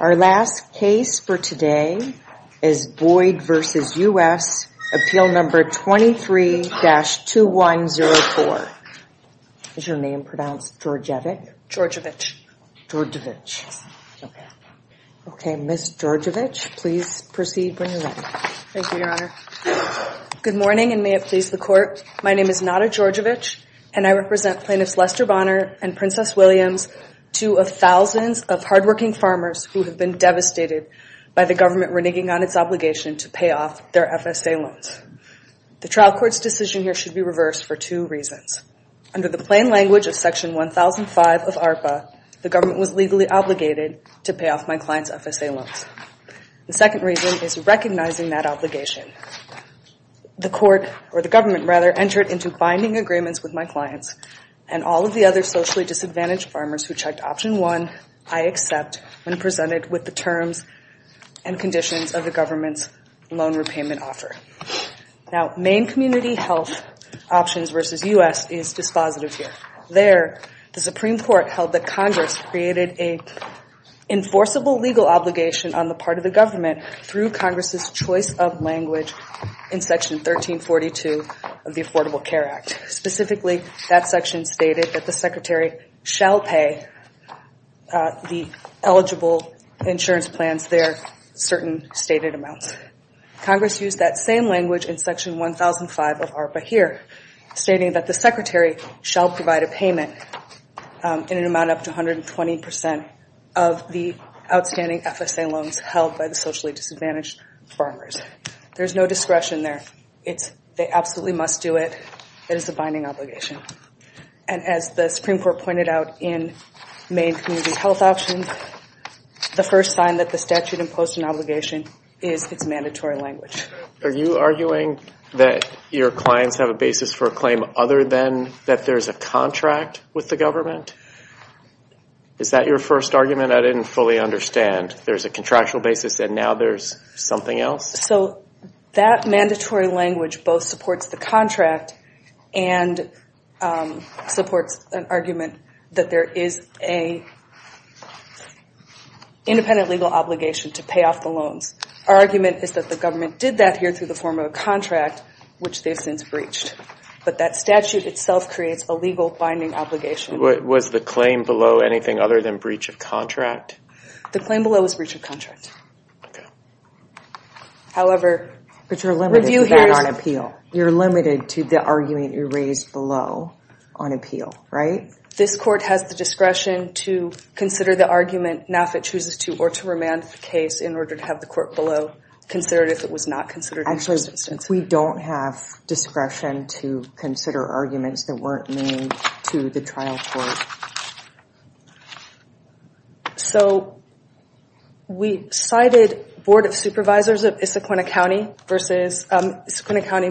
Our last case for today is Boyd v. U.S. Appeal Number 23-2104. Is your name pronounced Georgievich? Georgievich. Georgievich. Okay. Okay, Ms. Georgievich, please proceed when you're ready. Thank you, Your Honor. Good morning and may it please the Court. My name is Nada Georgievich and I represent Plaintiffs Lester Bonner and Princess Williams, two of thousands of hardworking farmers who have been devastated by the government reneging on its obligation to pay off their FSA loans. The trial court's decision here should be reversed for two reasons. Under the plain language of Section 1005 of ARPA, the government was legally obligated to pay off my client's FSA loans. The second reason is recognizing that obligation. The court or the government, rather, entered into binding agreements with my clients and all of the other socially disadvantaged farmers who checked Option 1, I accept, when presented with the terms and conditions of the government's loan repayment offer. Now, Maine Community Health Options v. U.S. is dispositive here. There, the Supreme Court held that Congress created an enforceable legal obligation on the part of the government through Congress's choice of language in Section 1342 of the Affordable Care Act. Specifically, that section stated that the Secretary shall pay the eligible insurance plans their certain stated amounts. Congress used that same language in Section 1005 of ARPA here, stating that the Secretary shall provide a payment in an amount up to 120 percent of the outstanding FSA loans held by the socially disadvantaged farmers. There's no discretion there. They absolutely must do it. It is a binding obligation. And as the Supreme Court pointed out in Maine Community Health Options, the first sign that the statute imposed an obligation is its mandatory language. Are you arguing that your clients have a basis for a claim other than that there's a contract with the government? Is that your first argument? I didn't fully understand. There's a contractual basis and now there's something else? So that mandatory language both supports the contract and supports an argument that there is an independent legal obligation to pay off the loans. Our argument is that the government did that here through the form of a contract, which they've since breached. But that statute itself creates a legal binding obligation. Was the claim below anything other than breach of contract? The claim below is breach of contract. However, review here is... You're limited to the argument you raised below on appeal, right? This court has the discretion to consider the argument, now if it chooses to, or to remand the case in order to have the court below consider it if it was not considered... Actually, we don't have discretion to consider arguments that weren't made to the trial court. So we cited Board of Supervisors of Issaquahna County versus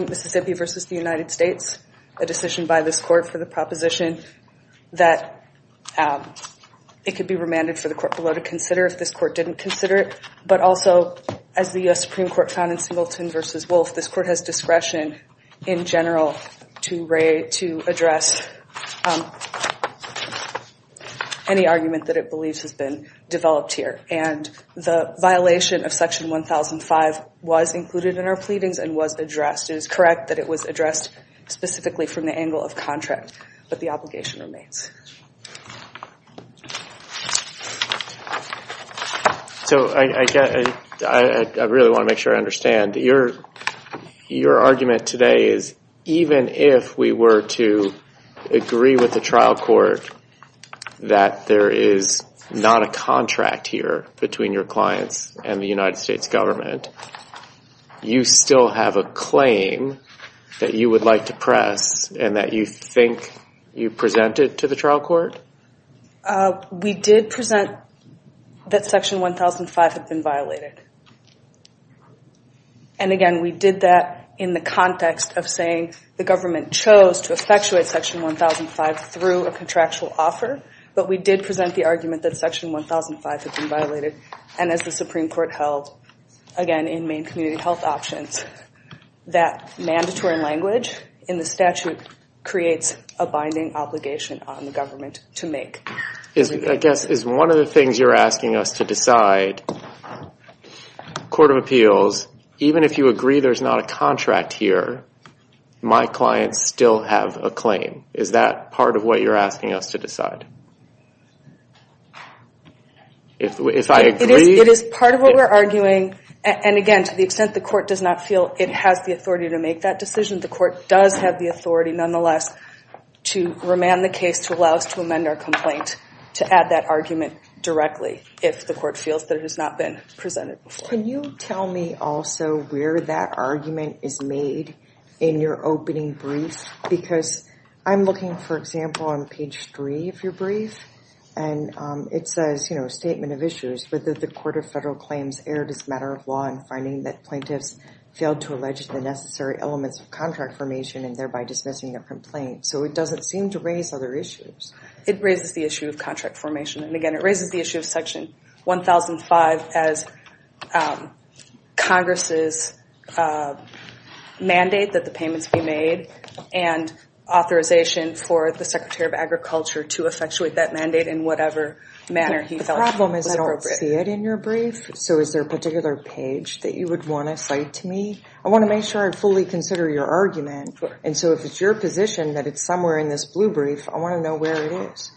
Mississippi versus the United States, a decision by this court for the proposition that it could be remanded for the court below to consider if this court didn't consider it. But also, as the U.S. Supreme Court found in Singleton v. Wolf, this court has discretion in general to address any argument that it believes has been developed here. And the violation of Section 1005 was included in our pleadings and was addressed. It is correct that it was addressed specifically from the angle of contract, but the obligation remains. So I really want to make sure I understand. Your argument today is even if we were to agree with the trial court that there is not a contract here between your clients and the United States government, you still have a claim that you would like to press and that you think you presented to the trial court? We did present that Section 1005 had been violated. And again, we did that in the context of saying the government chose to effectuate Section 1005 through a contractual offer, but we did present the argument that Section 1005 had been violated. And as the Supreme Court held, again, in Maine health options, that mandatory language in the statute creates a binding obligation on the government to make. Is one of the things you're asking us to decide, Court of Appeals, even if you agree there's not a contract here, my clients still have a claim. Is that part of what you're asking us to decide? If I agree? It is part of what we're arguing. And again, to the extent the court does not feel it has the authority to make that decision, the court does have the authority nonetheless to remand the case to allow us to amend our complaint to add that argument directly if the court feels that it has not been presented. Can you tell me also where that argument is made in your opening brief? Because I'm looking, for example, on page three of your brief and it says, you know, a statement of issues, but that the Court of Federal Claims erred as a matter of law in finding that plaintiffs failed to allege the necessary elements of contract formation and thereby dismissing their complaint. So it doesn't seem to raise other issues. It raises the issue of contract formation. And again, it raises the issue of section 1005 as Congress's mandate that the payments be made and authorization for the Secretary of Agriculture to effectuate that mandate in whatever manner he felt was appropriate. The problem is I don't see it in your brief, so is there a particular page that you would want to cite to me? I want to make sure I fully consider your argument, and so if it's your position that it's somewhere in this blue brief, I want to know where it is.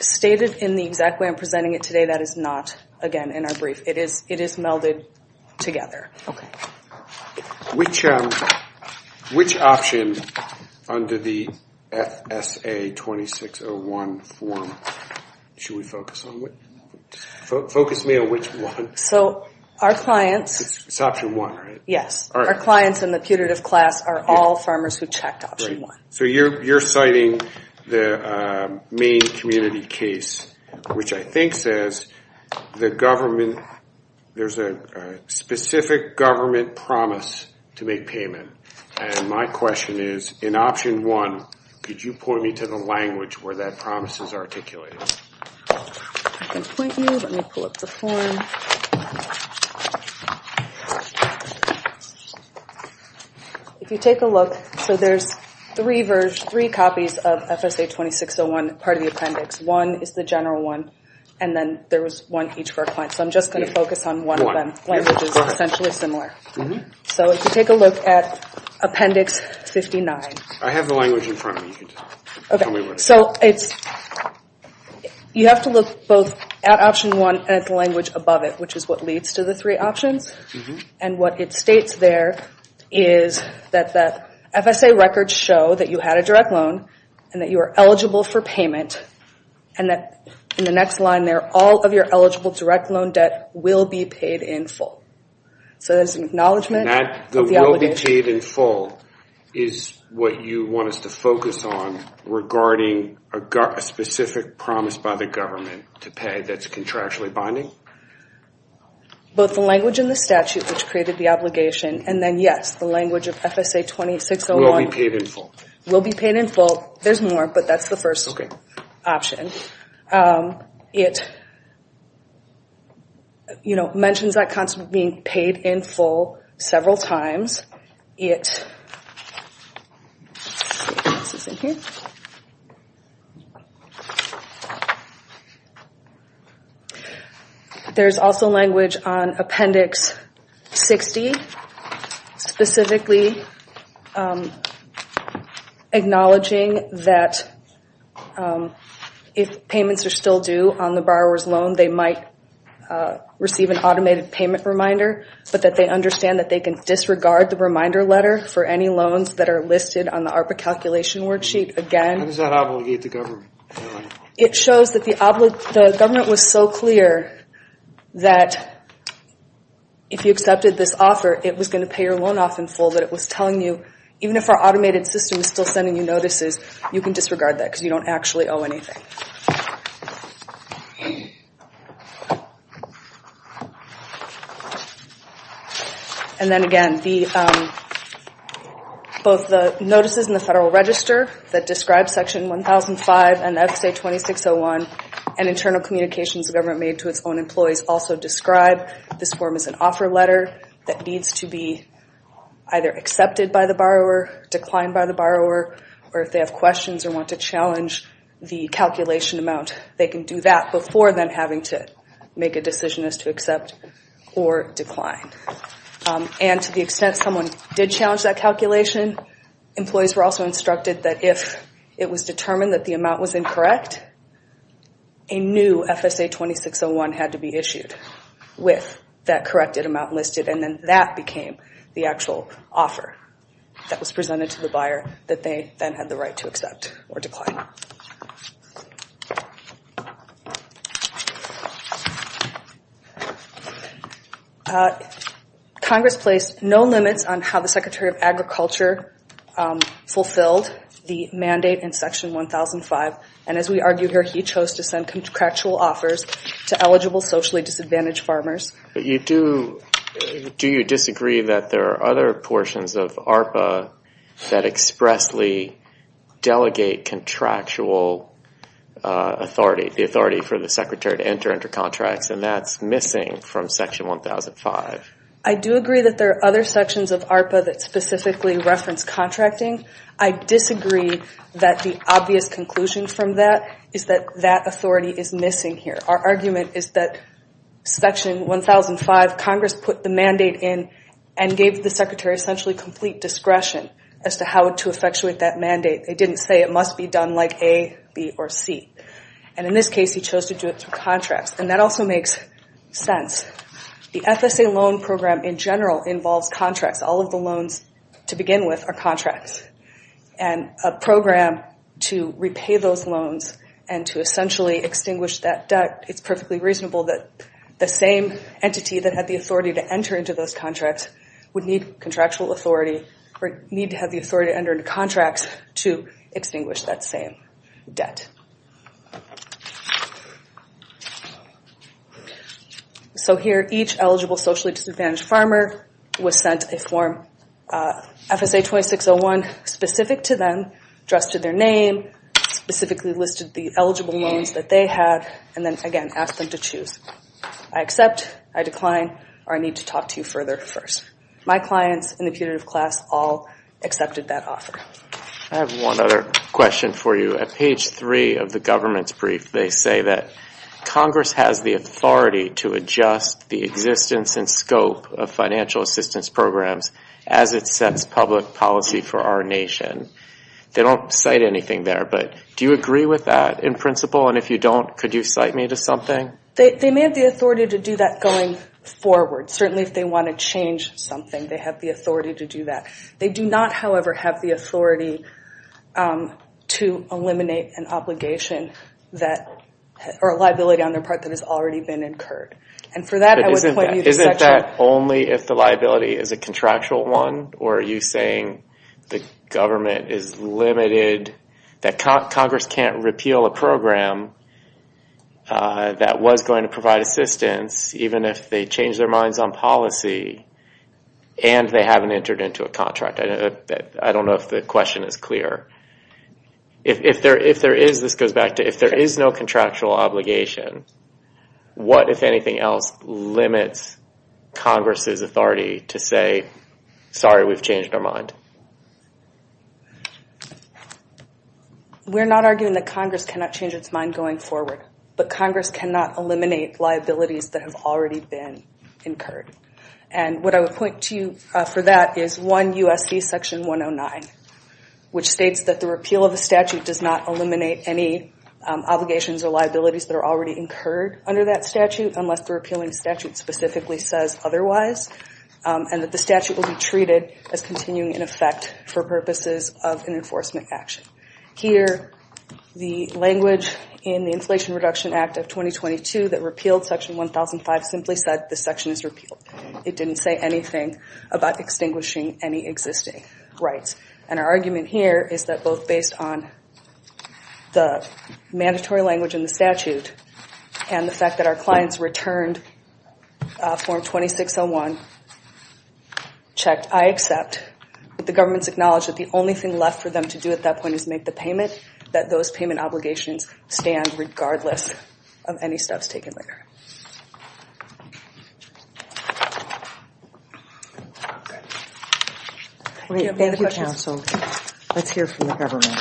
Stated in the exact way I'm presenting it today, that is not, again, in our brief. It is melded together. Which option under the FSA 2601 form should we focus on? Focus me on which one. It's option one, right? Yes. Our clients in the putative class are all farmers who checked option one. So you're citing the Maine community case, which I think says there's a specific government promise to make payment. And my question is, in option one, could you point me to the language where that promise is articulated? I can point you. Let me pull up the form. If you take a look, so there's three copies of FSA 2601, part of the appendix. One is the general one, and then there was one each for our clients. So I'm just going to focus on one of them. Language is essentially similar. So if you take a look at appendix 59. I have the language in front of me. You can tell me what it is. So you have to look both at option one and at the language above it, which is what leads to the three options. And what it states there is that the FSA records show that you had a direct loan and that you are eligible for payment. And that in the next line there, all of your eligible direct loan debt will be paid in full. So there's an acknowledgment of the obligation. The will be paid in full is what you want us to focus on regarding a specific promise by the government to pay that's contractually binding? Both the language in the statute, which created the obligation, and then yes, the language of FSA 2601. Will be paid in full. Will be paid in full. There's more, but that's the first option. It mentions that concept of being paid in full several times. There's also language on appendix 60, specifically acknowledging that if payments are still due on the borrower's loan, they might receive an automated payment reminder, but that they understand that they can disregard the reminder letter for any loans that are listed on the ARPA calculation worksheet again. How does that obligate the government? It shows that the government was so clear that if you accepted this offer, it was going to pay your loan off in full, but it was telling you even if our automated system is still sending you notices, you can disregard that because you don't actually owe anything. And then again, both the notices in the Federal Register that describe Section 1005 and FSA 2601 and internal communications the government made to its own employees also describe this form as an offer letter that needs to be either accepted by the borrower, declined by the borrower, or if they have questions or want to challenge the calculation amount, they can do that before then having to make a decision as to accept or decline. And to the extent someone did challenge that calculation, employees were also instructed that if it was determined that the amount was incorrect, a new FSA 2601 had to be issued with that corrected amount listed, and then that became the actual offer that was presented to the buyer that they then had the right to accept or decline. Congress placed no limits on how the Secretary of Agriculture fulfilled the mandate in Section 1005, and as we argue here, he chose to send contractual offers to eligible socially disadvantaged farmers. Do you disagree that there are other portions of ARPA that expressly delegate contractual authority, the authority for the Secretary to enter into contracts, and that's missing from Section 1005? I do agree that there are other sections of ARPA that specifically reference contracting. I disagree that the obvious conclusion from that is that that authority is missing here. Our argument is that Section 1005, Congress put the mandate in and gave the Secretary essentially complete discretion as to how to effectuate that mandate. They didn't say it must be done like A, B, or C. And in this case, he chose to do it through contracts, and that also makes sense. The FSA loan program in general involves contracts. All of the loans to begin with are contracts. And a program to repay those loans and to essentially extinguish that debt, it's perfectly reasonable that the same entity that had the authority to enter into those contracts would need contractual authority or need to have the authority to enter into contracts to extinguish that same debt. So here, each eligible socially disadvantaged farmer was sent a Form FSA-2601 specific to them, addressed to their name, specifically listed the eligible loans that they had, and then, again, asked them to choose. I accept, I decline, or I need to talk to you further first. My clients in the putative class all accepted that offer. I have one other question for you. At page three of the government's brief, they say that Congress has the authority to adjust the existence and scope of financial assistance programs as it sets public policy for our nation. They don't cite anything there, but do you agree with that in principle? And if you don't, could you cite me to something? They may have the authority to do that going forward. Certainly, if they want to change something, they have the authority to do that. They do not, however, have the authority to eliminate an obligation that, or a liability on their part that has already been incurred. And for that, I would point you to section... But isn't that only if the liability is a contractual one, or are you saying the government is limited, that Congress can't repeal a program that was going to provide assistance, even if they change their minds on policy, and they haven't entered into a contract? I don't know if the question is clear. If there is, this goes back to, if there is no contractual obligation, what, if anything else, limits Congress's authority to say, sorry, we've changed our mind? We're not arguing that Congress cannot change its mind going forward, but Congress cannot eliminate liabilities that have already been incurred. And what I would point to you for that is 1 U.S.C. section 109, which states that the repeal of the statute does not eliminate any obligations or liabilities that are already incurred under that statute, unless the repealing statute specifically says otherwise, and that the statute will be treated as continuing in effect for purposes of an enforcement action. Here, the language in the Inflation Reduction Act of 2022 that repealed section 1005 simply said this section is repealed. It didn't say anything about extinguishing any existing rights. And our argument here is that both based on the mandatory language in the statute and the fact that our clients returned form 2601, checked, I accept, but the government's acknowledged that the only thing left for them to do at that point is make the payment, that those payment obligations stand regardless of any steps taken later. Great. Thank you, counsel. Let's hear from the government.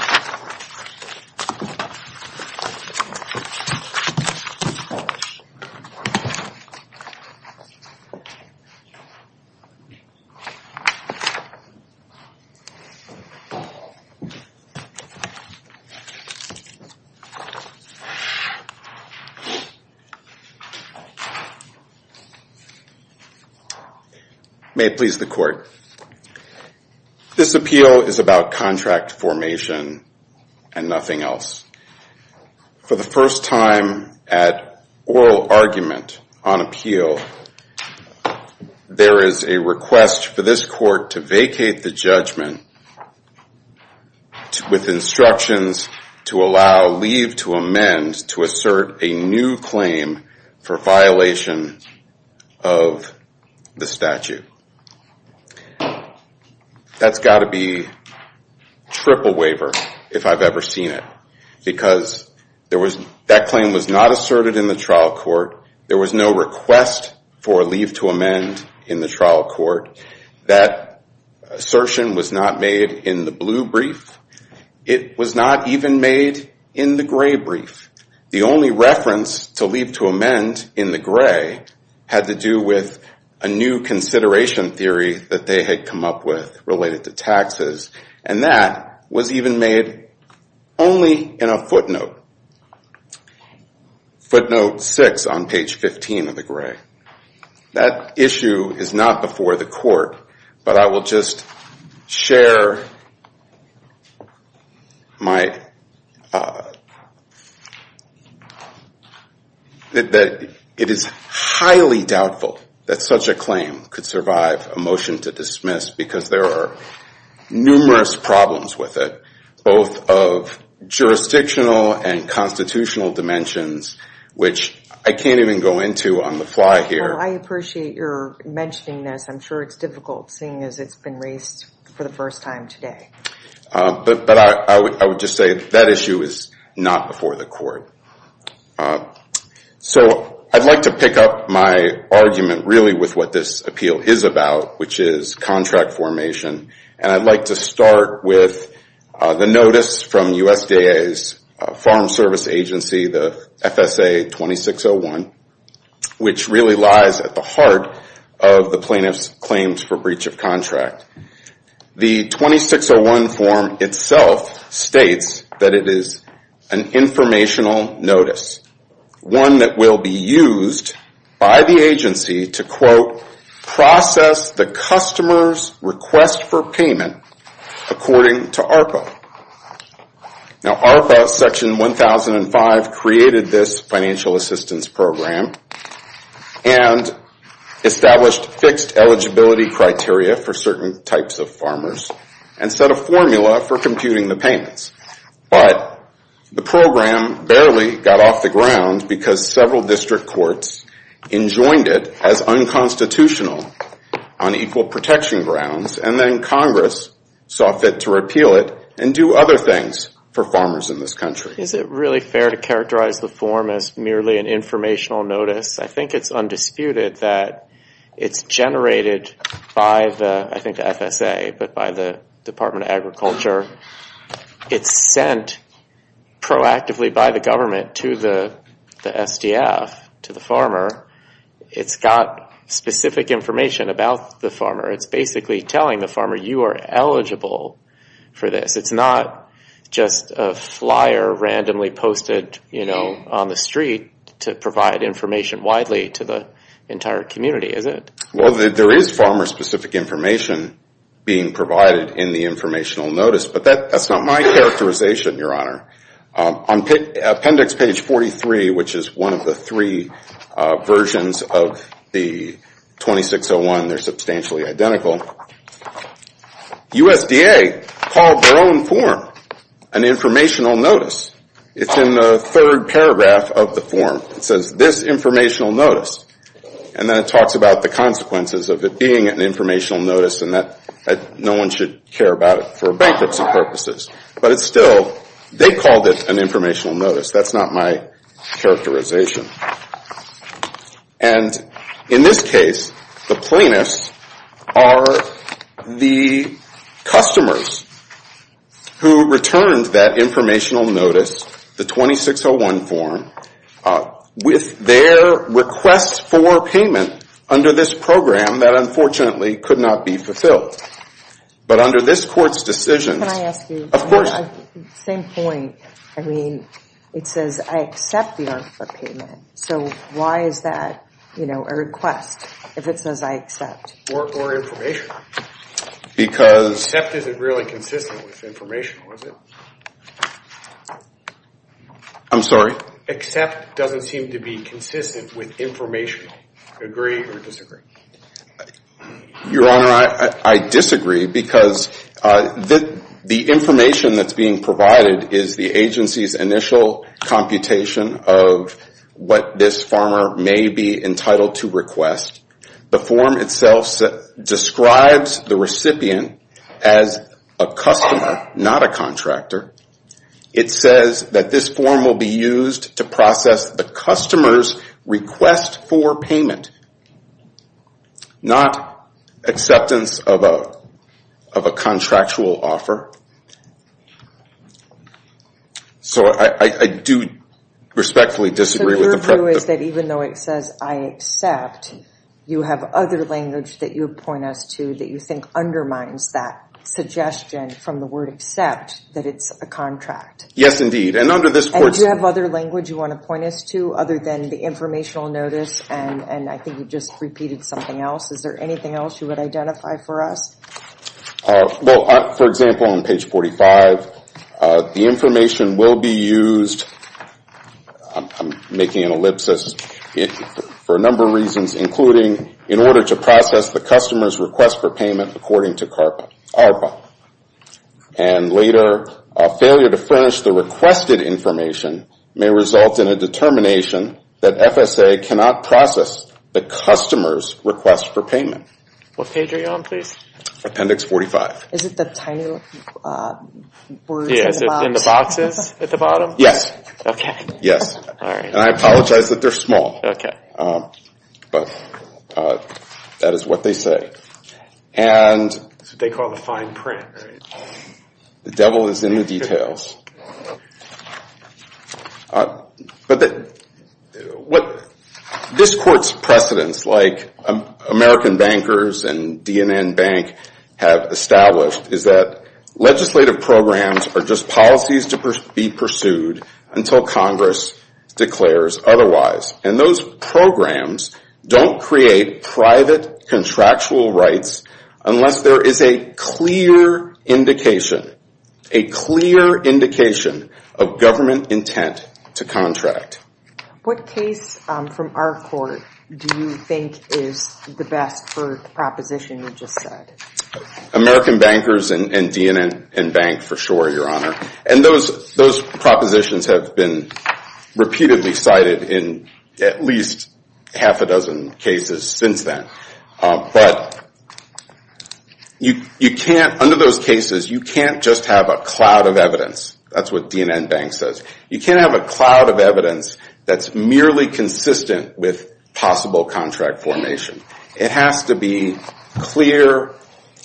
May it please the court. This appeal is about contract formation and nothing else. For the first time at oral argument on appeal, there is a request for this court to vacate the judgment with instructions to allow leave to amend to assert a new claim for violation of the statute. That's got to be triple waiver if I've ever seen it, because that claim was not asserted in the trial court. There was no request for leave to amend in the trial court. That assertion was not made in the blue brief. It was not even made in the gray brief. The only reference to leave to amend in the gray had to do with a new consideration theory that they had come up with related to taxes. And that was even made only in a footnote, footnote six on page 15 of the gray. That issue is not before the court, but I will just share that it is highly doubtful that such a claim could survive a motion to dismiss because there are numerous problems with it, both of jurisdictional and constitutional dimensions, which I can't even go into on the fly here. Well, I appreciate your mentioning this. I'm sure it's difficult seeing as it's been raised for the first time today. But I would just say that issue is not before the court. So I'd like to pick up my argument really with what this appeal is about, which is contract formation. And I'd like to start with the notice from USDA's Farm Service Agency, the FSA 2601, which really lies at the heart of the plaintiff's claims for breach of contract. The 2601 form itself states that it is an informational notice, one that will be used by the agency to, quote, process the customer's request for payment according to ARPA. Now, ARPA Section 1005 created this financial assistance program and established fixed eligibility criteria for certain types of farmers and set a formula for computing the payments. But the program barely got off the ground because several district courts enjoined it as unconstitutional on equal protection grounds, and then Congress saw fit to repeal it and do other things for farmers in this country. Is it really fair to characterize the form as merely an informational notice? I think it's undisputed that it's generated by the, I think the FSA, but by the Department of Agriculture. It's sent proactively by the government to the SDF, to the farmer. It's got specific information about the farmer. It's basically telling the farmer, you are eligible for this. It's not just a flyer randomly posted, you know, on the street to provide information widely to the entire community, is it? Well, there is farmer-specific information being provided in the informational notice, but that's not my characterization, Your Honor. On appendix page 43, which is one of the three versions of the 2601, they're substantially identical, USDA called their own form an informational notice. It's in the third paragraph of the form. It says, this informational notice. And then it talks about the consequences of it being an informational notice and that no one should care about it for bankruptcy purposes. But it's still, they called it an informational notice. That's not my characterization. And in this case, the plaintiffs are the customers who returned that informational notice, the 2601 form, with their request for payment under this program that unfortunately could not be fulfilled. But under this court's decision. Can I ask you? Of course. Same point. I mean, it says, I accept your payment. So why is that, you know, a request if it says I accept? Or information. Accept isn't really consistent with informational, is it? I'm sorry? Accept doesn't seem to be consistent with informational. Agree or disagree? Your Honor, I disagree because the information that's being provided is the agency's initial computation of what this farmer may be entitled to request. The form itself describes the recipient as a customer, not a contractor. It says that this form will be used to process the customer's request for payment, not acceptance of a contractual offer. So I do respectfully disagree with the preference. The issue is that even though it says I accept, you have other language that you point us to that you think undermines that suggestion from the word accept that it's a contract. Yes, indeed. And under this court's decision. And do you have other language you want to point us to other than the informational notice? And I think you just repeated something else. Is there anything else you would identify for us? Well, for example, on page 45, the information will be used. I'm making an ellipsis. For a number of reasons, including in order to process the customer's request for payment according to CARPA. And later, a failure to furnish the requested information may result in a determination that FSA cannot process the customer's request for payment. What page are you on, please? Appendix 45. Is it the tiny words in the box? The boxes at the bottom? Yes. Okay. Yes. And I apologize that they're small. Okay. But that is what they say. That's what they call the fine print. The devil is in the details. But this court's precedents, like American Bankers and DNN Bank have established, is that legislative programs are just policies to be pursued until Congress declares otherwise. And those programs don't create private contractual rights unless there is a clear indication, a clear indication of government intent to contract. What case from our court do you think is the best for the proposition you just said? American Bankers and DNN Bank, for sure, Your Honor. And those propositions have been repeatedly cited in at least half a dozen cases since then. But you can't, under those cases, you can't just have a cloud of evidence. That's what DNN Bank says. You can't have a cloud of evidence that's merely consistent with possible contract formation. It has to be clear.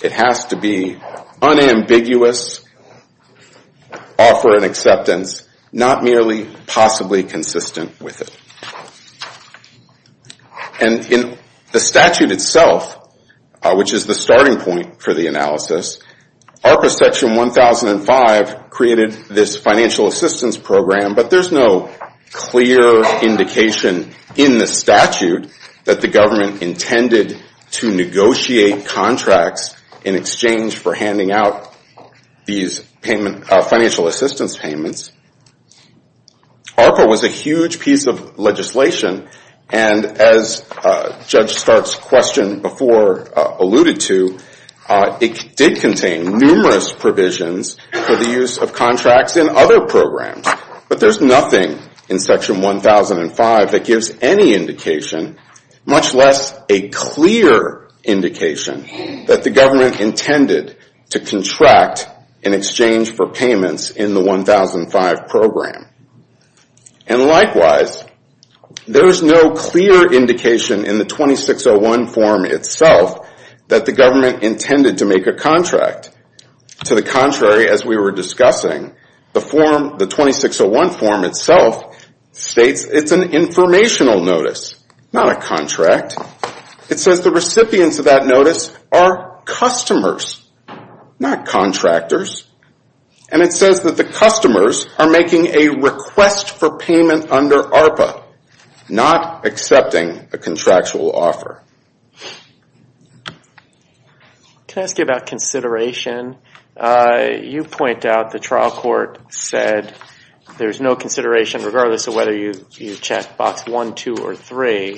It has to be unambiguous, offer an acceptance, not merely possibly consistent with it. And in the statute itself, which is the starting point for the analysis, ARPA Section 1005 created this financial assistance program, but there's no clear indication in the statute that the government intended to negotiate contracts in exchange for handing out these financial assistance payments. ARPA was a huge piece of legislation, and as Judge Stark's question before alluded to, it did contain numerous provisions for the use of contracts in other programs. But there's nothing in Section 1005 that gives any indication, much less a clear indication, that the government intended to contract in exchange for payments in the 1005 program. And likewise, there's no clear indication in the 2601 form itself that the government intended to make a contract. To the contrary, as we were discussing, the 2601 form itself states it's an informational notice, not a contract. It says the recipients of that notice are customers, not contractors. And it says that the customers are making a request for payment under ARPA, not accepting a contractual offer. Can I ask you about consideration? You point out the trial court said there's no consideration regardless of whether you check Box 1, 2, or 3.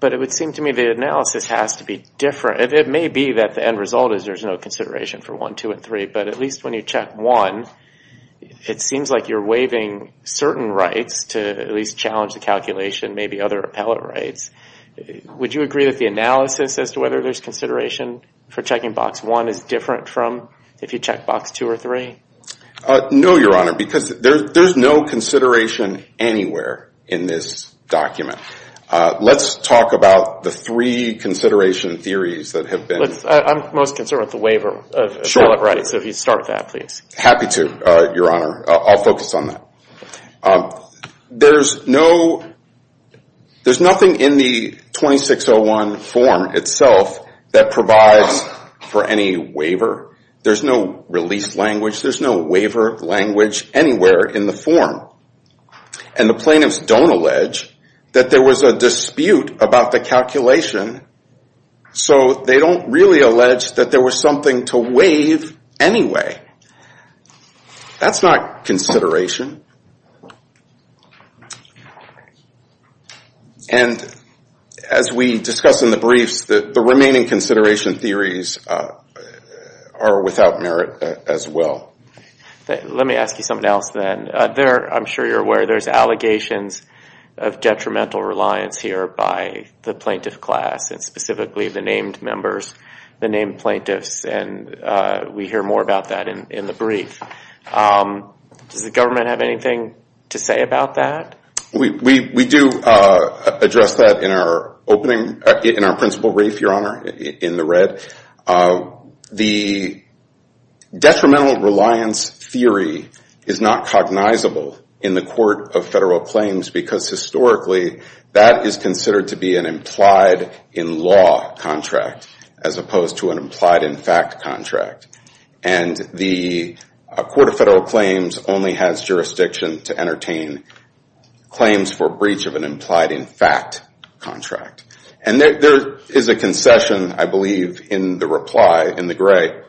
But it would seem to me the analysis has to be different. It may be that the end result is there's no consideration for 1, 2, and 3, but at least when you check 1, it seems like you're waiving certain rights to at least challenge the calculation, maybe other appellate rights. Would you agree that the analysis as to whether there's consideration for checking Box 1 is different from if you check Box 2 or 3? No, Your Honor, because there's no consideration anywhere in this document. Let's talk about the three consideration theories that have been. I'm most concerned with the waiver of appellate rights, so if you start with that, please. Happy to, Your Honor. I'll focus on that. There's nothing in the 2601 form itself that provides for any waiver. There's no release language. There's no waiver language anywhere in the form. And the plaintiffs don't allege that there was a dispute about the calculation, so they don't really allege that there was something to waive anyway. That's not consideration. And as we discuss in the briefs, the remaining consideration theories are without merit as well. Let me ask you something else then. I'm sure you're aware there's allegations of detrimental reliance here by the plaintiff class, and specifically the named members, the named plaintiffs, and we hear more about that in the brief. Does the government have anything to say about that? We do address that in our principal brief, Your Honor, in the red. The detrimental reliance theory is not cognizable in the court of federal claims because historically that is considered to be an implied-in-law contract as opposed to an implied-in-fact contract. And the court of federal claims only has jurisdiction to entertain claims for breach of an implied-in-fact contract. And there is a concession, I believe, in the reply in the gray,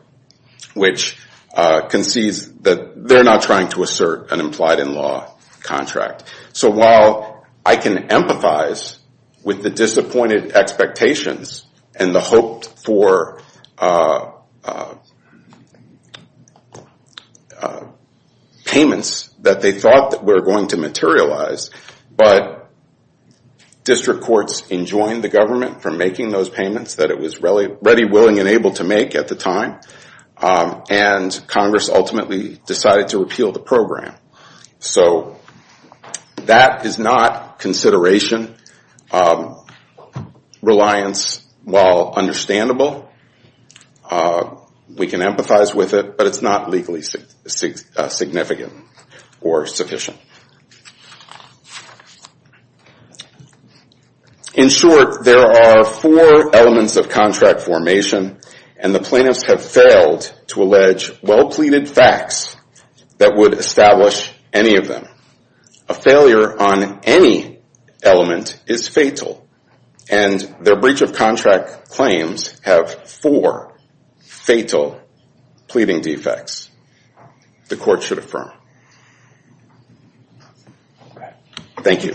which concedes that they're not trying to assert an implied-in-law contract. So while I can empathize with the disappointed expectations and the hope for payments that they thought were going to materialize, but district courts enjoined the government from making those payments that it was ready, willing, and able to make at the time, and Congress ultimately decided to repeal the program. So that is not consideration reliance. While understandable, we can empathize with it, but it's not legally significant or sufficient. In short, there are four elements of contract formation, and the plaintiffs have failed to allege well-pleaded facts that would establish any of them. A failure on any element is fatal, and their breach of contract claims have four fatal pleading defects. The court should affirm. Thank you.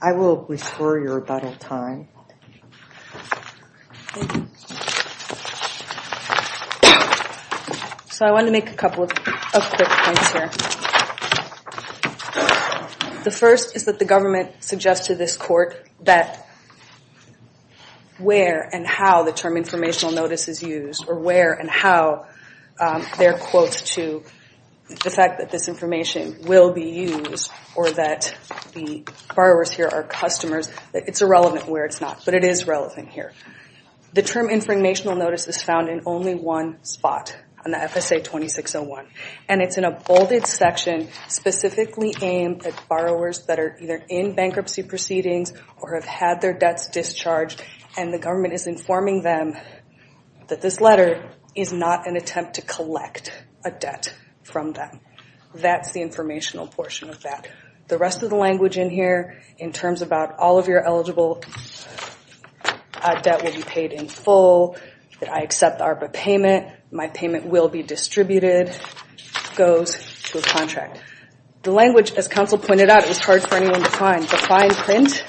I will restore your rebuttal time. So I want to make a couple of quick points here. The first is that the government suggested to this court that where and how the term informational notice is used, or where and how there are quotes to the fact that this information will be used, or that the borrowers here are customers, it's irrelevant where it's not, but it is relevant here. The term informational notice is found in only one spot on the FSA 2601, and it's in a bolded section specifically aimed at borrowers that are either in bankruptcy proceedings or have had their debts discharged, and the government is informing them that this letter is not an attempt to collect a debt from them. That's the informational portion of that. The rest of the language in here in terms about all of your eligible debt will be paid in full, that I accept the ARPA payment, my payment will be distributed, goes to a contract. The language, as counsel pointed out, is hard for anyone to find. The fine print,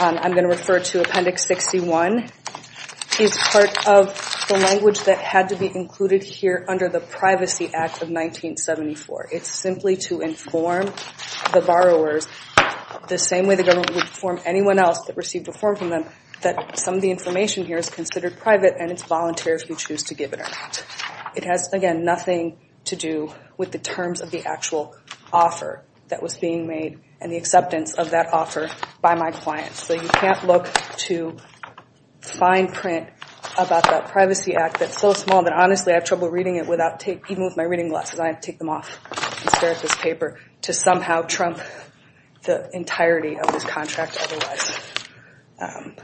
I'm going to refer to Appendix 61, is part of the language that had to be included here under the Privacy Act of 1974. It's simply to inform the borrowers the same way the government would inform anyone else that received a form from them, that some of the information here is considered private and it's voluntary if you choose to give it or not. It has, again, nothing to do with the terms of the actual offer that was being made and the acceptance of that offer by my clients. So you can't look to fine print about that Privacy Act that's so small that honestly I have trouble reading it even with my reading glasses. I have to take them off and stare at this paper to somehow trump the entirety of this contract otherwise.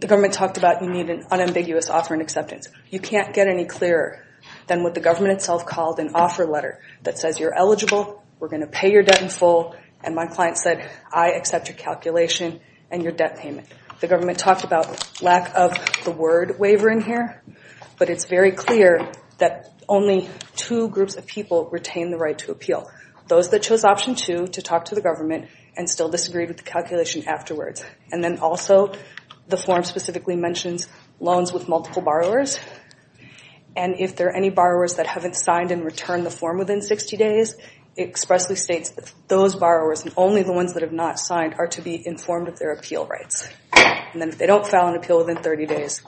The government talked about you need an unambiguous offer and acceptance. You can't get any clearer than what the government itself called an offer letter that says you're eligible, we're going to pay your debt in full, and my client said I accept your calculation and your debt payment. The government talked about lack of the word waiver in here, but it's very clear that only two groups of people retain the right to appeal, those that chose option two to talk to the government and still disagreed with the calculation afterwards. And then also the form specifically mentions loans with multiple borrowers and if there are any borrowers that haven't signed and returned the form within 60 days, it expressly states that those borrowers and only the ones that have not signed are to be informed of their appeal rights. And then if they don't file an appeal within 30 days,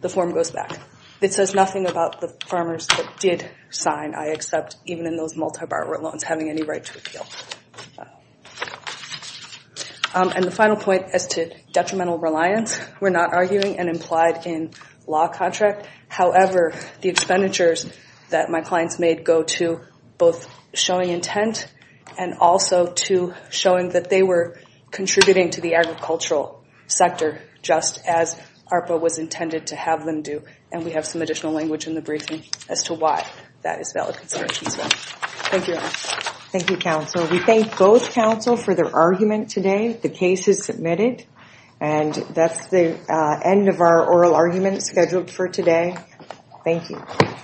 the form goes back. It says nothing about the farmers that did sign, I accept, even in those multi-borrower loans having any right to appeal. And the final point as to detrimental reliance, we're not arguing and implied in law contract. However, the expenditures that my clients made go to both showing intent and also to showing that they were contributing to the agricultural sector just as ARPA was intended to have them do. And we have some additional language in the briefing as to why that is valid consideration. Thank you. Thank you, counsel. We thank both counsel for their argument today. The case is submitted. And that's the end of our oral argument scheduled for today. Thank you.